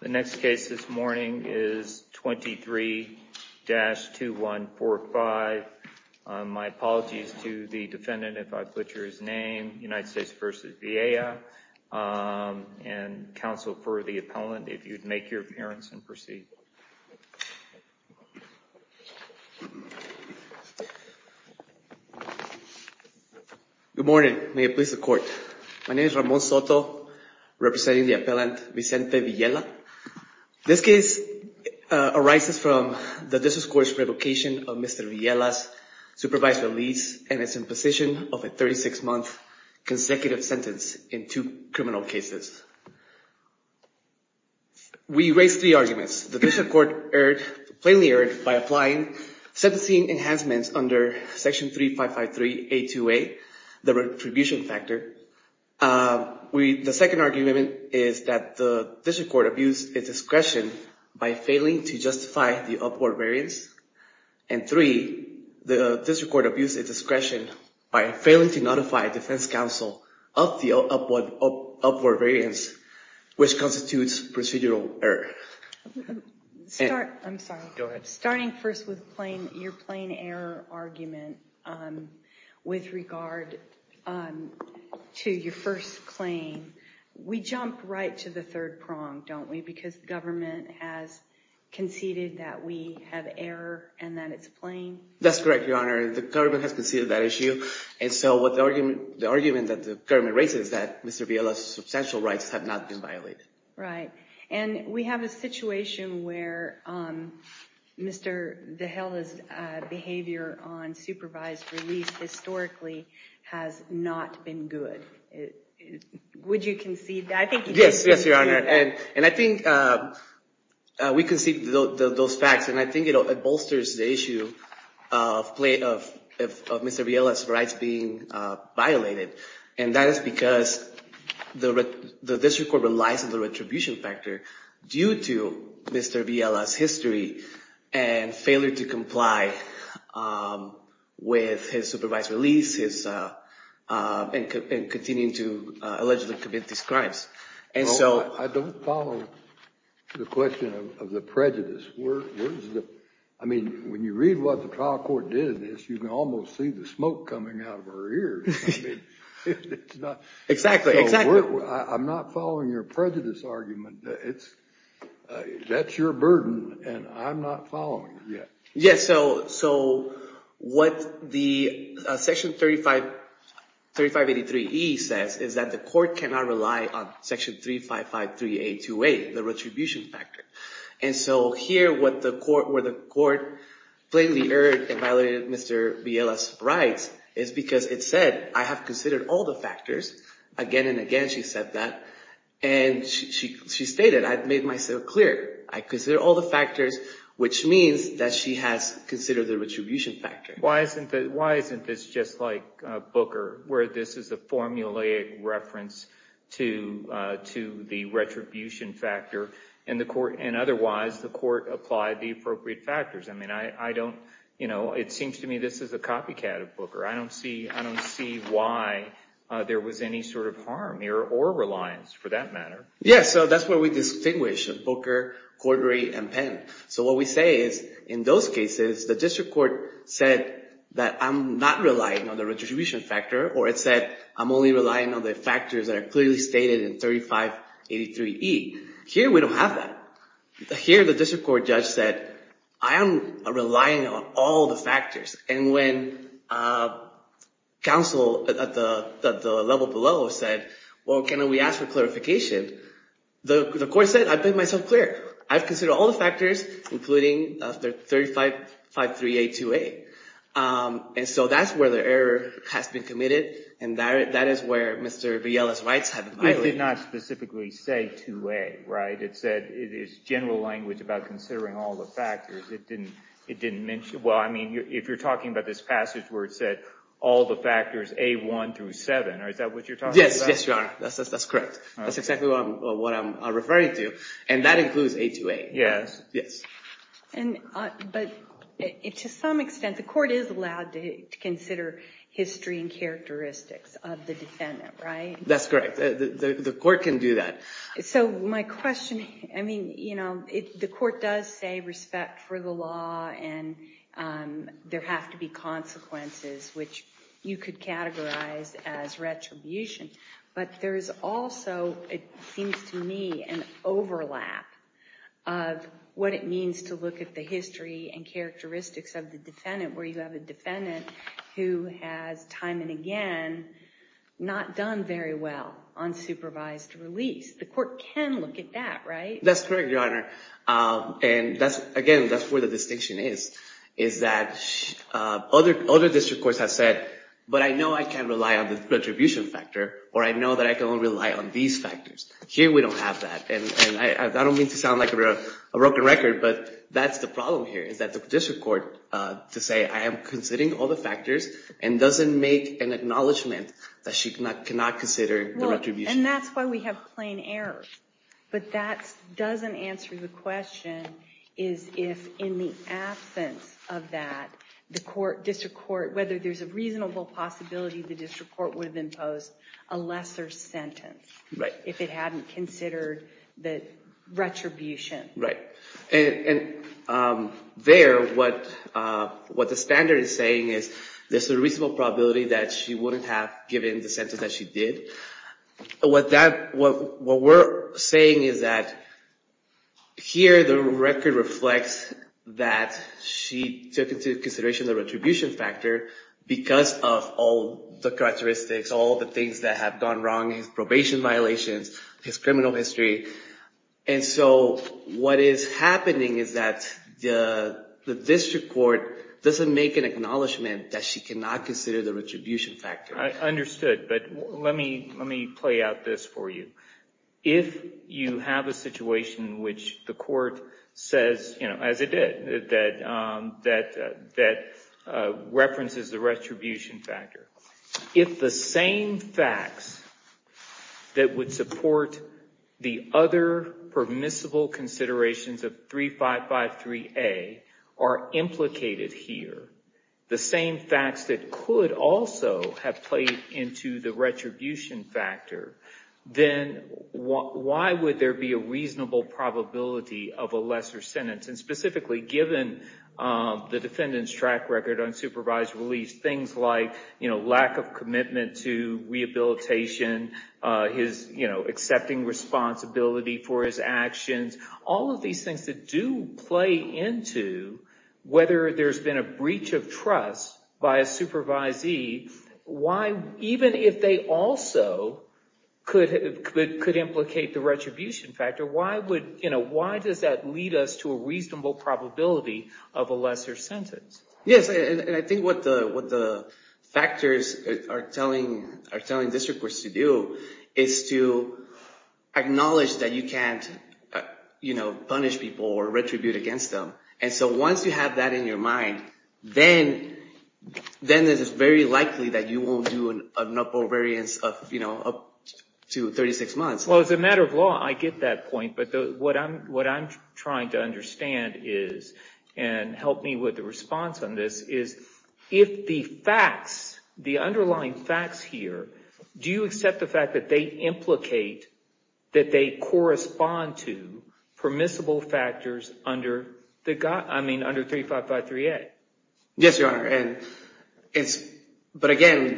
The next case this morning is 23-2145. My apologies to the defendant if I put your name, United States v. Villela, and counsel for the appellant if you'd make your appearance and proceed. Good morning, may it please the court. My name is Ramon Soto representing the appellant Vicente Villela. This case arises from the District Court's revocation of Mr. Villela's supervised release and his imposition of a 36-month consecutive sentence in two criminal cases. We raised three arguments. The District Court plainly sentencing enhancements under Section 3553A2A, the retribution factor. The second argument is that the District Court abused its discretion by failing to justify the upward variance. And three, the District Court abused its discretion by failing to notify defense counsel of the upward variance, which constitutes procedural error. I'm sorry. Starting first with your plain error argument with regard to your first claim, we jump right to the third prong, don't we, because the government has conceded that we have error and that it's plain? That's correct, Your Honor. The government has conceded that issue. And so what the argument that the government raises is that Mr. Villela's substantial rights have not been violated. And we have a situation where Mr. Villela's behavior on supervised release historically has not been good. Would you concede that? Yes, Your Honor. And I think we concede those facts, and I think it bolsters the issue of Mr. Villela's rights being violated. And that is because the District Court relies on the retribution factor due to Mr. Villela's history and failure to comply with his supervised release and continuing to allegedly commit these crimes. I don't follow the question of the prejudice. I mean, when you read what the trial court did in this, you can almost see the smoke coming out of her ears. Exactly. I'm not following your prejudice argument. That's your burden, and I'm not following it yet. Yes. So what the section 3583E says is that the court cannot rely on section 3553A28, the retribution factor. And so here, where the court blatantly erred and violated Mr. Villela's rights is because it said, I have considered all the factors. Again and again she said that. And she stated, I've made myself clear. I consider all the factors, which means that she has considered the retribution factor. Why isn't this just like Booker, where this is a formulaic reference to the retribution factor, and otherwise the court applied the appropriate factors? I mean, it seems to me this is a copycat of Booker. I don't see why there was any sort of harm or reliance for that matter. Yes. So that's where we distinguish Booker, Cordray, and Penn. So what we say is, in those cases, the district court said that I'm not relying on the retribution factor, or it said I'm only relying on the factors that are clearly stated in 3583E. Here we don't have that. Here the district court judge said, I am relying on all the factors. And when counsel at the level below said, well, can we ask for clarification? The court said, I've made myself clear. I've said 3553A2A. And so that's where the error has been committed, and that is where Mr. Villela's rights have been violated. It did not specifically say 2A, right? It said, it is general language about considering all the factors. It didn't mention, well, I mean, if you're talking about this passage where it said, all the factors A1 through 7, is that what you're talking about? Yes. Yes, Your Honor. That's correct. That's exactly what I'm referring to. And that includes A2A. Yes. But to some extent, the court is allowed to consider history and characteristics of the defendant, right? That's correct. The court can do that. So my question, I mean, the court does say respect for the law and there have to be consequences, which you could categorize as retribution. But there is also, it seems to me, an overlap of what it means to look at the history and characteristics of the defendant, where you have a defendant who has, time and again, not done very well on supervised release. The court can look at that, right? That's correct, Your Honor. And again, that's where the distinction is, is that other district courts have said, but I know I can rely on the retribution factor, or I know that I can rely on these factors. Here, we don't have that. And I don't mean to sound like a broken record, but that's the problem here, is that the district court, to say, I am considering all the factors, and doesn't make an acknowledgment that she cannot consider the retribution. And that's why we have plain error. But that doesn't answer the question, is if in the absence of that, the court, district court, whether there's a reasonable possibility the district court would have imposed a lesser sentence, if it hadn't considered the retribution. Right. And there, what the standard is saying is, there's a reasonable probability that she wouldn't have given the sentence that she did. What we're saying is that, here, the record reflects that she took into consideration the retribution factor, because of all the characteristics, all the things that have gone wrong, his probation violations, his criminal history. And so, what is happening is that the district court doesn't make an acknowledgment that she cannot consider the retribution factor. I understood, but let me play out this for you. If you have a situation in which the court says, as it did, that references the retribution factor, if the same facts that would support the other permissible considerations of 3553A are implicated here, the same facts that could also have played into the retribution factor, then why would there be a reasonable probability of a lesser sentence? And specifically, given the defendant's track record on supervised release, things like, you know, lack of commitment to rehabilitation, his, you know, accepting responsibility for his actions, all of these things that do play into whether there's been a breach of trust by a supervisee, why, even if they also could implicate the retribution factor, why would, you know, why does that lead us to a reasonable probability of a lesser sentence? Yes, and I think what the factors are telling district courts to do is to acknowledge that you can't, you know, punish people or retribute against them. And so, once you have that in your mind, then it is very likely that you won't do an uproar variance of, you know, up to 36 months. Well, as a matter of law, I get that point, but what I'm trying to understand is, and help me with the response on this, is if the facts, the underlying facts here, do you accept the fact that they implicate, that they correspond to permissible factors under the, I mean, under 3553A? Yes, Your Honor, and it's, but again,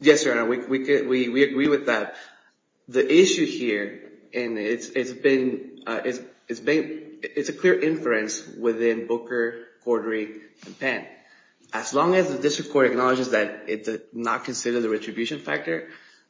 yes, Your Honor, we agree with that. The issue here, and it's been, it's been, it's a clear inference within Booker, Cordray, and Penn. As long as the district court acknowledges that it did not consider the retribution factor,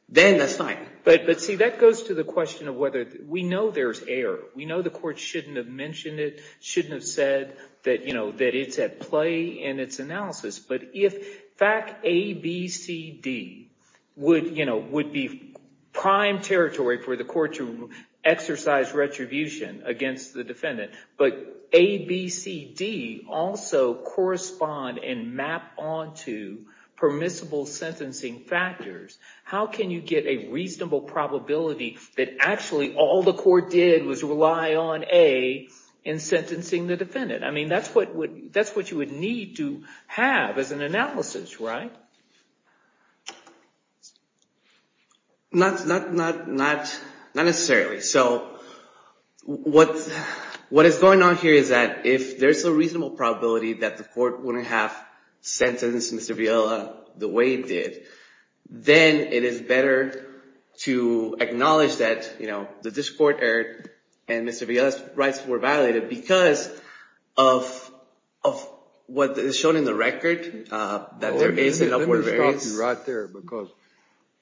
then that's fine. But, but see, that goes to the question of whether, we know there's error. We know the court shouldn't have mentioned it, shouldn't have said that, you know, that it's at play in its analysis. But if fact A, B, C, D would, you know, would be prime territory for the court to exercise retribution against the defendant, but A, B, C, D also correspond and map onto permissible sentencing factors, how can you get a reasonable probability that actually all the court did was rely on A in sentencing the defendant? I mean, that's what would, that's what you would need to have as an analysis, right? Not, not, not, not, not necessarily. So what, what is going on here is that if there's a reasonable probability that the court wouldn't have sentenced Mr. Viola the way it did, then it is better to acknowledge that, you know, the district court error and Mr. Viola's rights were violated because of, of what is shown in the record, that there is an upward variance. Let me stop you right there, because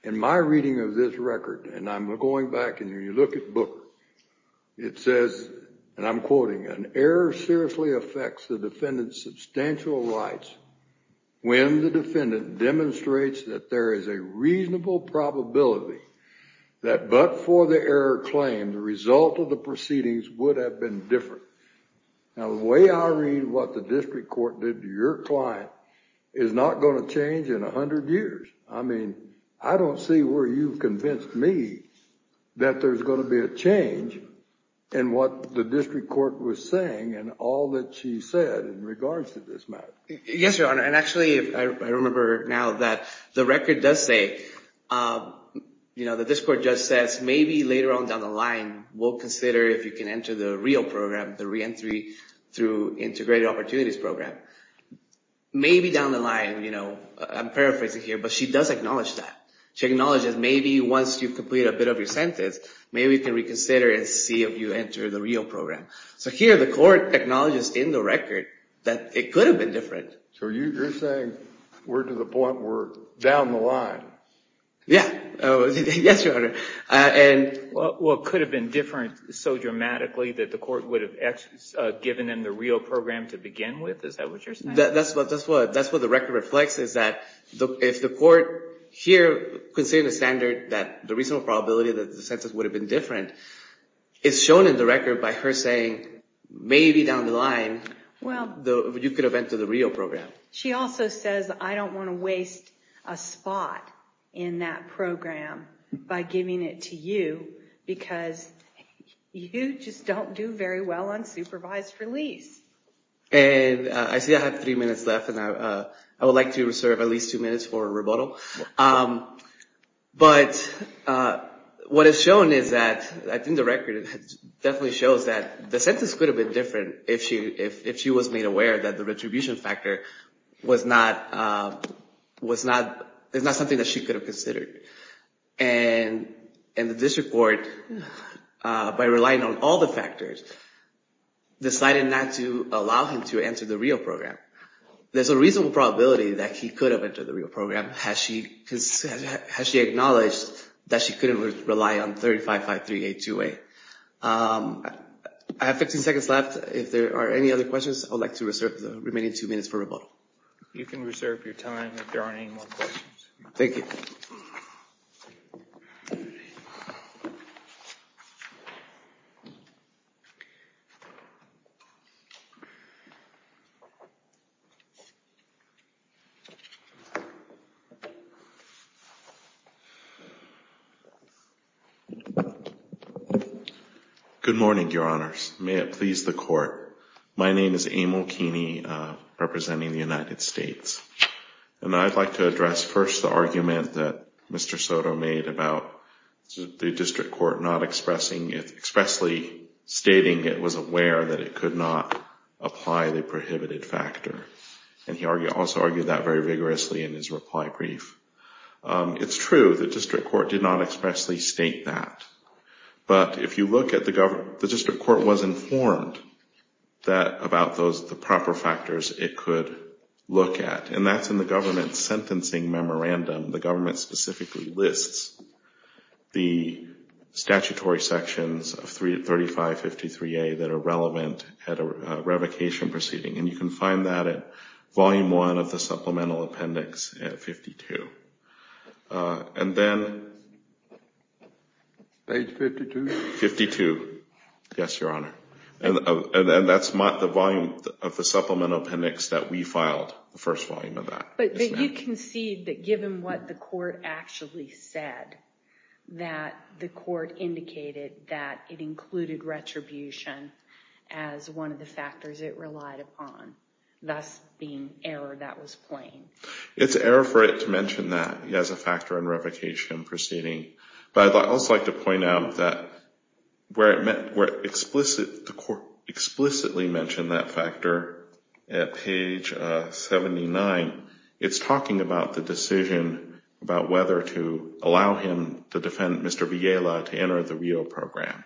in my reading of this record, and I'm going back and you look at Booker, it says, and I'm going to read it again, it says, it seriously affects the defendant's substantial rights when the defendant demonstrates that there is a reasonable probability that but for the error claimed, the result of the proceedings would have been different. Now, the way I read what the district court did to your client is not going to change in 100 years. I mean, I don't see where you've convinced me that there's going to be a change in what the district court was saying and all that she said in regards to this matter. Yes, Your Honor. And actually, I remember now that the record does say, you know, that this court just says, maybe later on down the line, we'll consider if you can enter the REAL program, the reentry through integrated opportunities program. Maybe down the line, you know, I'm paraphrasing here, but she does acknowledge that. She acknowledges maybe once you've completed a bit of your sentence, maybe you can consider and see if you enter the REAL program. So here, the court acknowledges in the record that it could have been different. So you're saying we're to the point where down the line? Yeah. Yes, Your Honor. Well, it could have been different so dramatically that the court would have given them the REAL program to begin with? Is that what you're saying? That's what the record reflects, is that if the court here considered a standard that the reasonable probability that the sentence would have been different, it's shown in the record by her saying, maybe down the line, you could have entered the REAL program. She also says, I don't want to waste a spot in that program by giving it to you because you just don't do very well on supervised release. And I see I have three minutes left, and I would like to reserve at least two minutes for rebuttal. But what it's shown is that, I think the record definitely shows that the sentence could have been different if she was made aware that the retribution factor was not something that she could have considered. And the district court, by relying on all the factors, decided not to allow him to enter the REAL program. There's a reasonable probability that he could have entered the REAL program had she acknowledged that she couldn't rely on 35-5382A. I have 15 seconds left. If there are any other questions, I would like to reserve the remaining two minutes for rebuttal. You can reserve your time if there aren't any more questions. Thank you. Good morning, Your Honors. May it please the Court. My name is Amal Keeney, representing the United States. And I'd like to address first the argument that Mr. Soto made about the district court not expressing, expressly stating it was aware that it could not apply the prohibited factor. And he also argued that very vigorously in his reply brief. It's true, the district court did not expressly state that. But if you look at the government, the district court was informed that about those, the proper factors it could look at. And that's in the government's sentencing memorandum. The government specifically lists the statutory sections of 3553A that are relevant at a revocation proceeding. And you can find that at Volume 1 of the Supplemental Appendix at 52. And then... Page 52. 52. Yes, Your Honor. And that's the volume of the Supplemental Appendix that we filed, the first volume of that. But you concede that given what the court actually said, that the court indicated that it included retribution as one of the factors it relied upon, thus being error that was plain. It's error for it to mention that as a factor in revocation proceeding. But I'd also like to point out that where it explicitly mentioned that factor at page 79, it's talking about the decision about whether to allow him to defend Mr. Villela to enter the Rio program.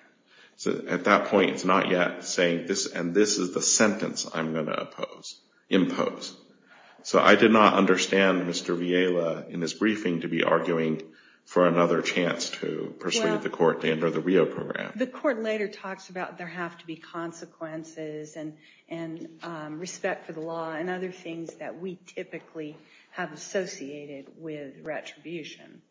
At that point, it's not yet saying this, and this is the sentence I'm going to impose. So I did not understand Mr. Villela in his briefing to be arguing for another chance to pursue the court to enter the Rio program. The court later talks about there have to be consequences and respect for the law and other things that we typically have associated with retribution.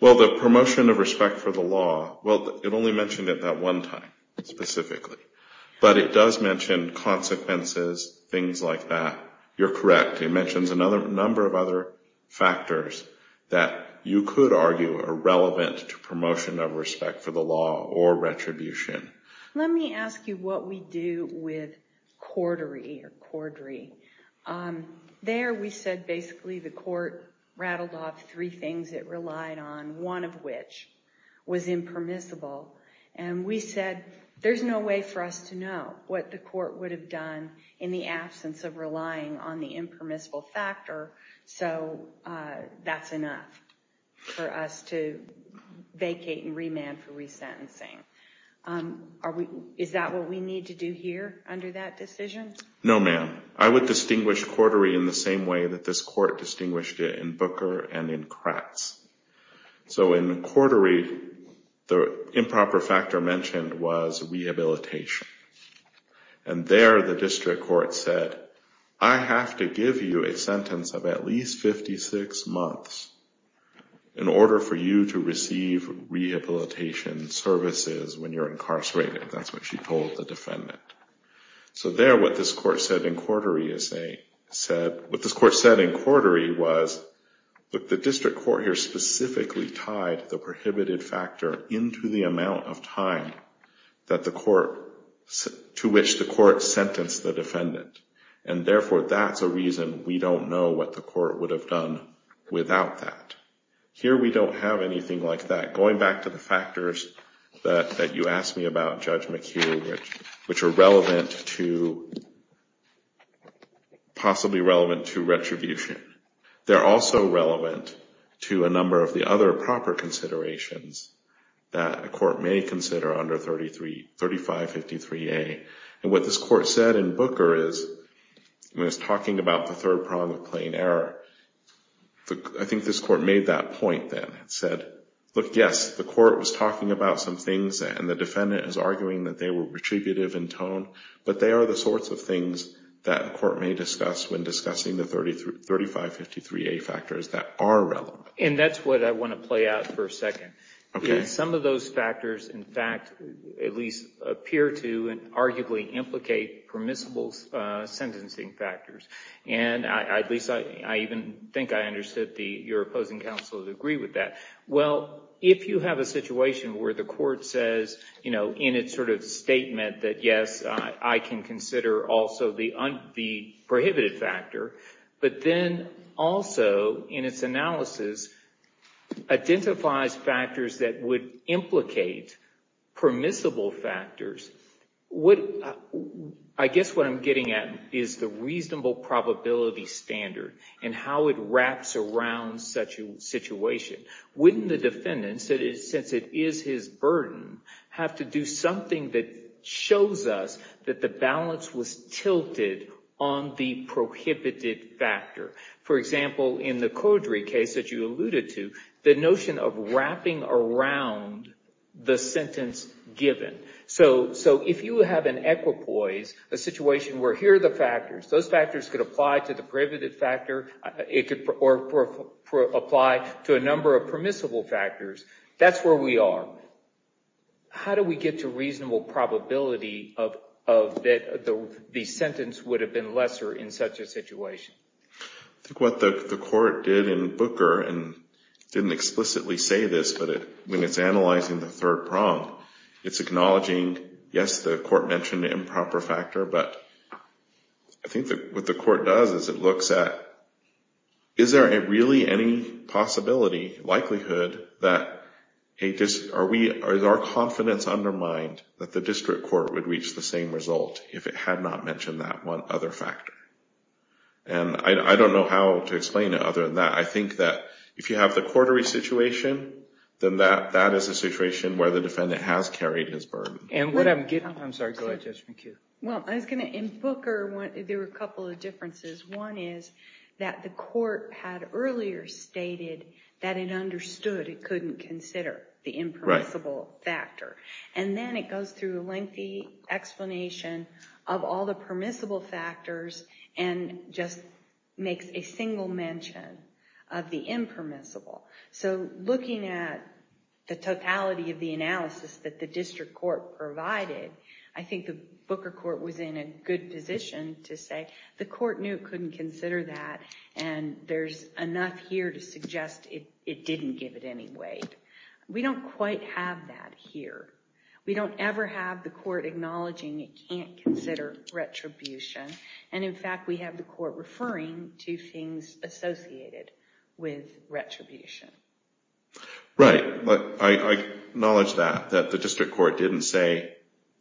Well, the promotion of respect for the law, well, it only mentioned it that one time, specifically. But it does mention consequences, things like that. You're correct. It mentions a number of other factors that you could argue are relevant to promotion of respect for the law or retribution. Let me ask you what we do with cordery. There we said basically the court rattled off three things it relied on, one of which was impermissible. And we said there's no way for us to know what the court would have done in the absence of relying on the impermissible factor. So that's enough for us to vacate and remand for resentencing. Is that what we need to do here under that decision? No, ma'am. I would distinguish cordery in the same way that this court distinguished it in Booker and in Kratz. So in cordery, the improper factor mentioned was rehabilitation. And there the district court said, I have to give you a sentence of at least 56 months in order for you to receive rehabilitation services when you're incarcerated. That's what she told the defendant. So there what this court said in cordery was that the district court here specifically tied the prohibited factor into the amount of time to which the court sentenced the defendant. And therefore that's a reason we don't know what the court would have done without that. Here we don't have anything like that. Going back to the factors that you asked me about, Judge McHugh, which are relevant to possibly relevant to retribution. They're also relevant to a number of the other proper considerations that a court may consider under 3553A. And what this court said in Booker is, when it's talking about the third prong of plain error, I think this court made that point then. It said, look, yes, the court was talking about some things and the defendant is arguing that they were retributive in tone. But they are the sorts of things that a court may discuss when discussing the 3553A factors that are relevant. And that's what I want to play out for a second. Some of those factors, in fact, at least appear to and arguably implicate permissible sentencing factors. And at least I even think I understood your opposing counsel to agree with that. Well, if you have a situation where the court says, you know, in its sort of statement that, yes, I can consider also the prohibited factor, but then also in its analysis identifies factors that would implicate permissible factors, I guess what I'm getting at is the reasonable probability standard and how it wraps around such a situation. Wouldn't the defendant, since it is his burden, have to do something that shows us that the balance was tilted on the prohibited factor? For example, in the Caudry case that you alluded to, the notion of wrapping around the sentence given. So if you have an equipoise, a situation where here are the factors, those factors could apply to the prohibited factor or apply to a number of permissible factors, that's where we are. How do we get to reasonable probability that the sentence would have been lesser in such a situation? I think what the court did in Booker and didn't explicitly say this, but when it's analyzing the third prong, it's acknowledging, yes, the court mentioned the improper factor, but I think what the court does is it looks at, is there really any possibility, likelihood, that our confidence undermined that the district court would reach the same result if it had not mentioned that one other factor? And I don't know how to explain it other than that. I think that if you have the Caudry situation, then that is a situation where the defendant has carried his burden. I'm sorry, go ahead, Judge McHugh. Well, in Booker, there were a couple of differences. One is that the court had earlier stated that it understood it couldn't consider the impermissible factor. And then it goes through a lengthy explanation of all the permissible factors and just makes a single mention of the impermissible. So looking at the totality of the analysis that the district court provided, I think the Booker court was in a good position to say the court knew it couldn't consider that, and there's enough here to suggest it didn't give it any weight. We don't quite have that here. We don't ever have the court acknowledging it can't consider retribution. And, in fact, we have the court referring to things associated with retribution. Right. I acknowledge that, that the district court didn't say,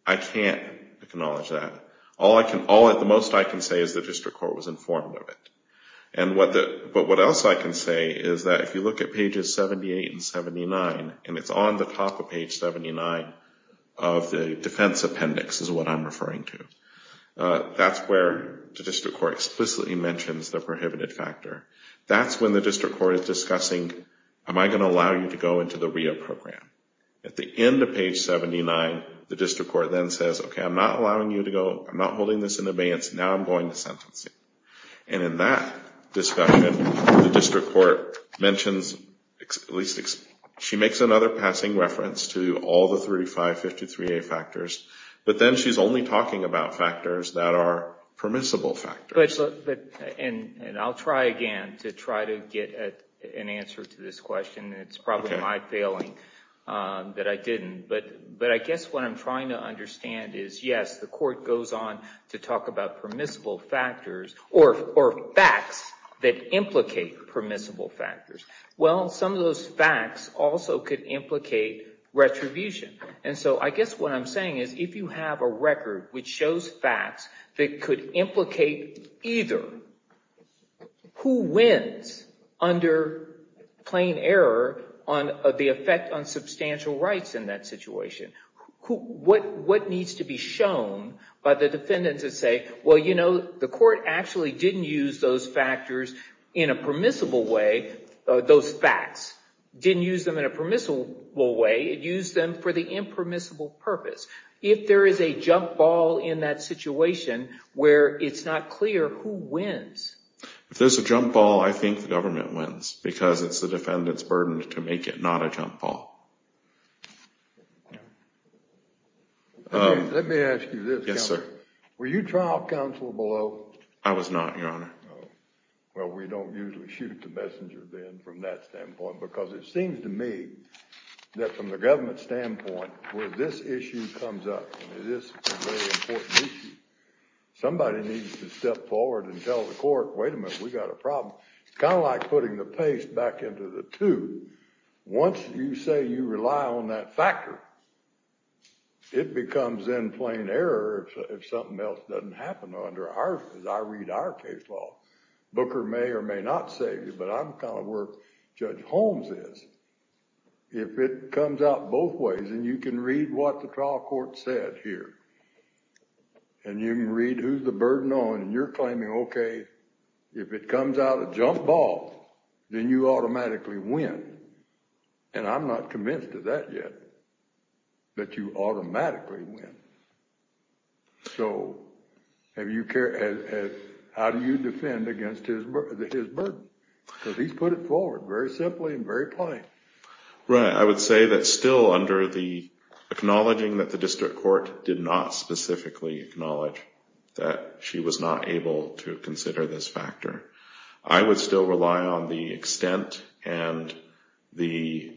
I can't acknowledge that. All I can say is the district court was informed of it. But what else I can say is that if you look at pages 78 and 79, and it's on the top of page 79 of the defense appendix is what I'm referring to, that's where the district court explicitly mentions the prohibited factor. That's when the district court is discussing, am I going to allow you to go into the REIA program? At the end of page 79, the district court then says, okay, I'm not allowing you to go, I'm not holding this in advance, now I'm going to sentence you. And in that discussion, the district court makes another passing reference to all the 3553A factors, but then she's only talking about factors that are permissible factors. And I'll try again to try to get an answer to this question. It's probably my failing that I didn't. But I guess what I'm trying to understand is, yes, the court goes on to talk about permissible factors or facts that implicate permissible factors. Well, some of those facts also could implicate retribution. And so I guess what I'm saying is if you have a record which shows facts that could implicate either, who wins under plain error on the effect on substantial rights in that situation? What needs to be shown by the defendants that say, well, you know, the court actually didn't use those factors in a permissible way, those facts, didn't use them in a permissible way, it used them for the impermissible purpose. If there is a jump ball in that situation where it's not clear, who wins? If there's a jump ball, I think the government wins, because it's the defendant's burden to make it not a jump ball. Let me ask you this. Yes, sir. Were you trial counsel below? I was not, Your Honor. Well, we don't usually shoot the messenger bin from that standpoint, because it seems to me that from the government's standpoint, where this issue comes up, and it is a very important issue, somebody needs to step forward and tell the court, wait a minute, we've got a problem. It's kind of like putting the paste back into the tube. Once you say you rely on that factor, it becomes in plain error if something else doesn't happen under our, as I read our case law. Booker may or may not say this, but I'm kind of where Judge Holmes is. If it comes out both ways, and you can read what the trial court said here, and you can read who's the burden on, and you're claiming, okay, if it comes out a jump ball, then you automatically win. And I'm not convinced of that yet, that you automatically win. So how do you defend against his burden? Because he's put it forward very simply and very plain. Right. I would say that still under the acknowledging that the district court did not specifically acknowledge that she was not able to consider this factor, I would still rely on the extent and the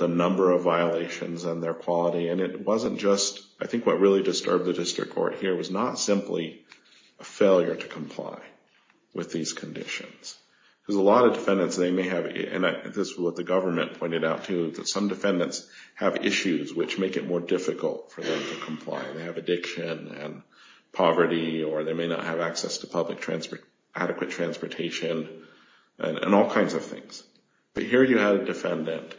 number of violations and their quality, and it wasn't just, I think what really disturbed the district court here was not simply a failure to comply with these conditions. Because a lot of defendants, they may have, and this is what the government pointed out too, that some defendants have issues which make it more difficult for them to comply. They have addiction and poverty, or they may not have access to public adequate transportation, and all kinds of things. But here you had a defendant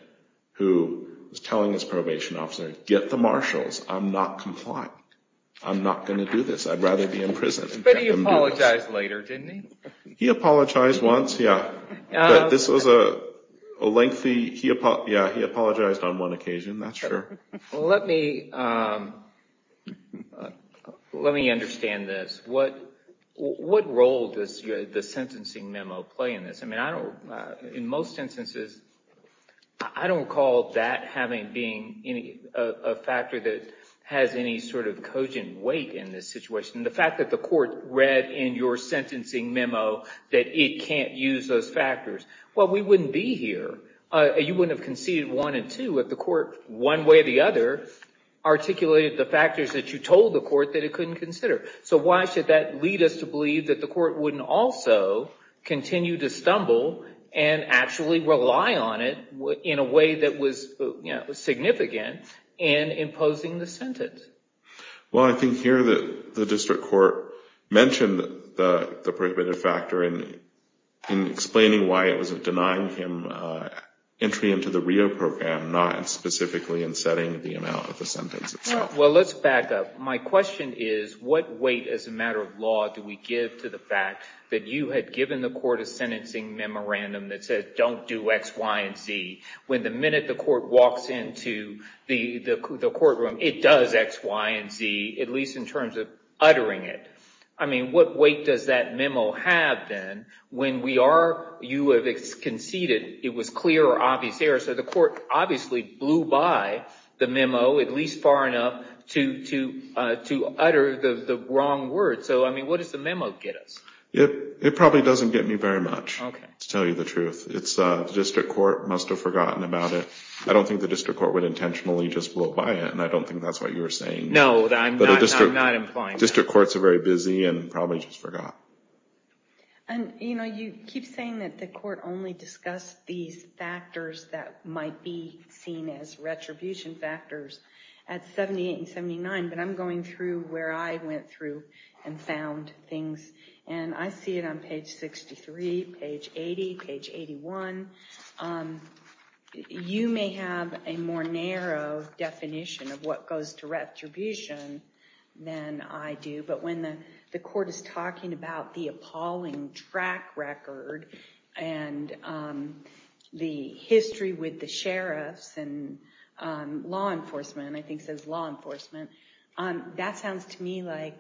who was telling his probation officer, get the marshals. I'm not complying. I'm not going to do this. I'd rather be in prison. But he apologized later, didn't he? He apologized once, yeah. This was a lengthy, yeah, he apologized on one occasion, that's sure. Let me understand this. What role does the sentencing memo play in this? I mean, in most instances, I don't call that having been a factor that has any sort of cogent weight in this situation. The fact that the court read in your sentencing memo that it can't use those factors, well, we wouldn't be here. You wouldn't have conceded one and two if the court, one way or the other, articulated the factors that you told the court that it couldn't consider. So why should that lead us to believe that the court wouldn't also continue to stumble and actually rely on it in a way that was significant in imposing the sentence? Well, I think here the district court mentioned the prohibitive factor in explaining why it was denying him entry into the Rio program, not specifically in setting the amount of the sentence itself. Well, let's back up. My question is, what weight as a matter of law do we give to the fact that you had given the court a sentencing memorandum that said, don't do X, Y, and Z, when the minute the court walks into the courtroom, it does X, Y, and Z, at least in terms of uttering it. I mean, what weight does that memo have then when we are, you have conceded it was clear or obvious error. So the court obviously blew by the memo, at least far enough, to utter the wrong word. So, I mean, what does the memo get us? It probably doesn't get me very much, to tell you the truth. The district court must have forgotten about it. I don't think the district court would intentionally just blow by it, and I don't think that's what you were saying. No, I'm not implying that. District courts are very busy and probably just forgot. And, you know, you keep saying that the court only discussed these factors that might be seen as retribution factors at 78 and 79, but I'm going through where I went through and found things. And I see it on page 63, page 80, page 81. You may have a more narrow definition of what goes to retribution than I do, but when the court is talking about the appalling track record and the history with the sheriffs and law enforcement, I think it says law enforcement, that sounds to me like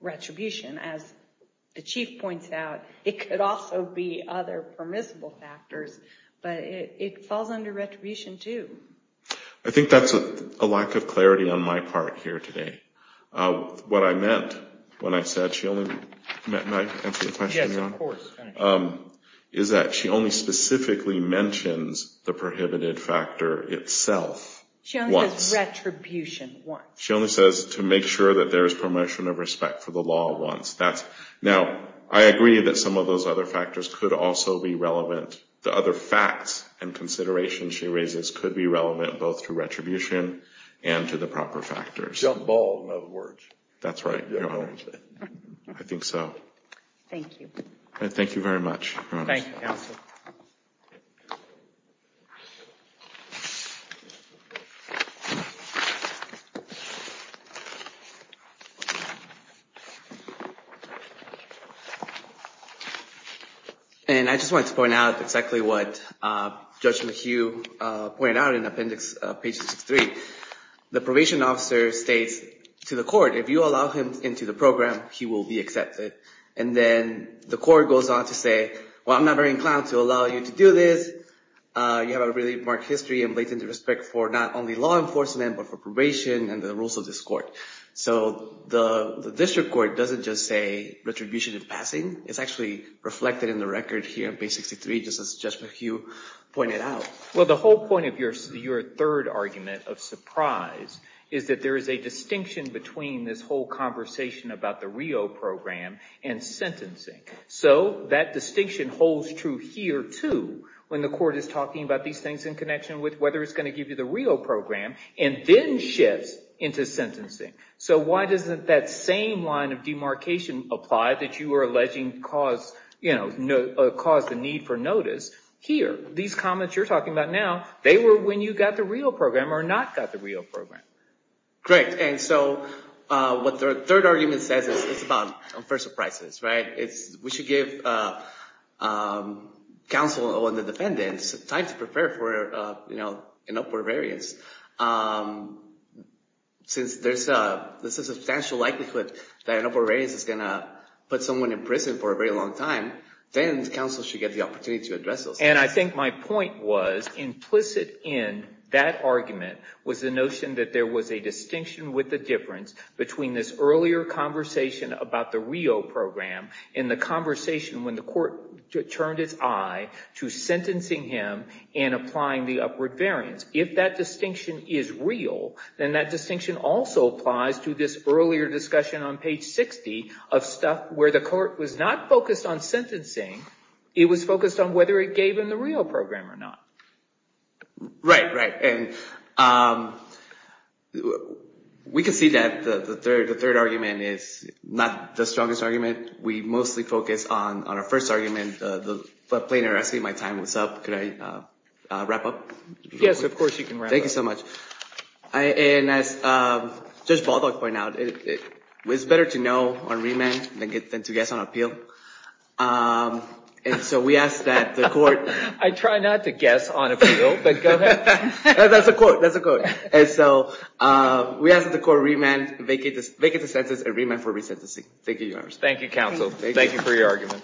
retribution. As the chief points out, it could also be other permissible factors, but it falls under retribution, too. I think that's a lack of clarity on my part here today. What I meant when I said she only – may I answer your question, Your Honor? Yes, of course. Is that she only specifically mentions the prohibited factor itself once. She only says retribution once. She only says to make sure that there is promotion of respect for the law once. Now, I agree that some of those other factors could also be relevant. The other facts and considerations she raises could be relevant both to retribution and to the proper factors. Jump ball, in other words. That's right, Your Honor. I think so. Thank you. Thank you very much, Your Honor. Thank you, counsel. Thank you. And I just wanted to point out exactly what Judge McHugh pointed out in Appendix 63. The probation officer states to the court, if you allow him into the program, he will be accepted. And then the court goes on to say, well, I'm not very inclined to allow you to do this. You have a really marked history and blatant disrespect for not only law enforcement but for probation and the rules of this court. So the district court doesn't just say retribution in passing. It's actually reflected in the record here in Page 63, just as Judge McHugh pointed out. Well, the whole point of your third argument of surprise is that there is a distinction between this whole conversation about the Rio program and sentencing. So that distinction holds true here, too, when the court is talking about these things in connection with whether it's going to give you the Rio program and then shifts into sentencing. So why doesn't that same line of demarcation apply that you were alleging caused the need for notice? Here, these comments you're talking about now, they were when you got the Rio program or not got the Rio program. Correct. And so what the third argument says is it's about, first, surprises. We should give counsel and the defendants time to prepare for an upward variance. Since there's a substantial likelihood that an upward variance is going to put someone in prison for a very long time, then counsel should get the opportunity to address those things. And I think my point was implicit in that argument was the notion that there was a distinction with the difference between this earlier conversation about the Rio program and the conversation when the court turned its eye to sentencing him and applying the upward variance. If that distinction is real, then that distinction also applies to this earlier discussion on page 60 of stuff where the court was not focused on sentencing. It was focused on whether it gave him the Rio program or not. Right, right. And we can see that the third argument is not the strongest argument. We mostly focus on our first argument, the plainer. I see my time is up. Can I wrap up? Yes, of course you can wrap up. Thank you so much. And as Judge Baldock pointed out, it's better to know on remand than to guess on appeal. And so we ask that the court… I try not to guess on appeal, but go ahead. That's a quote, that's a quote. And so we ask that the court remand, vacate the sentence and remand for resentencing. Thank you, Your Honor. Thank you, counsel. Thank you for your argument.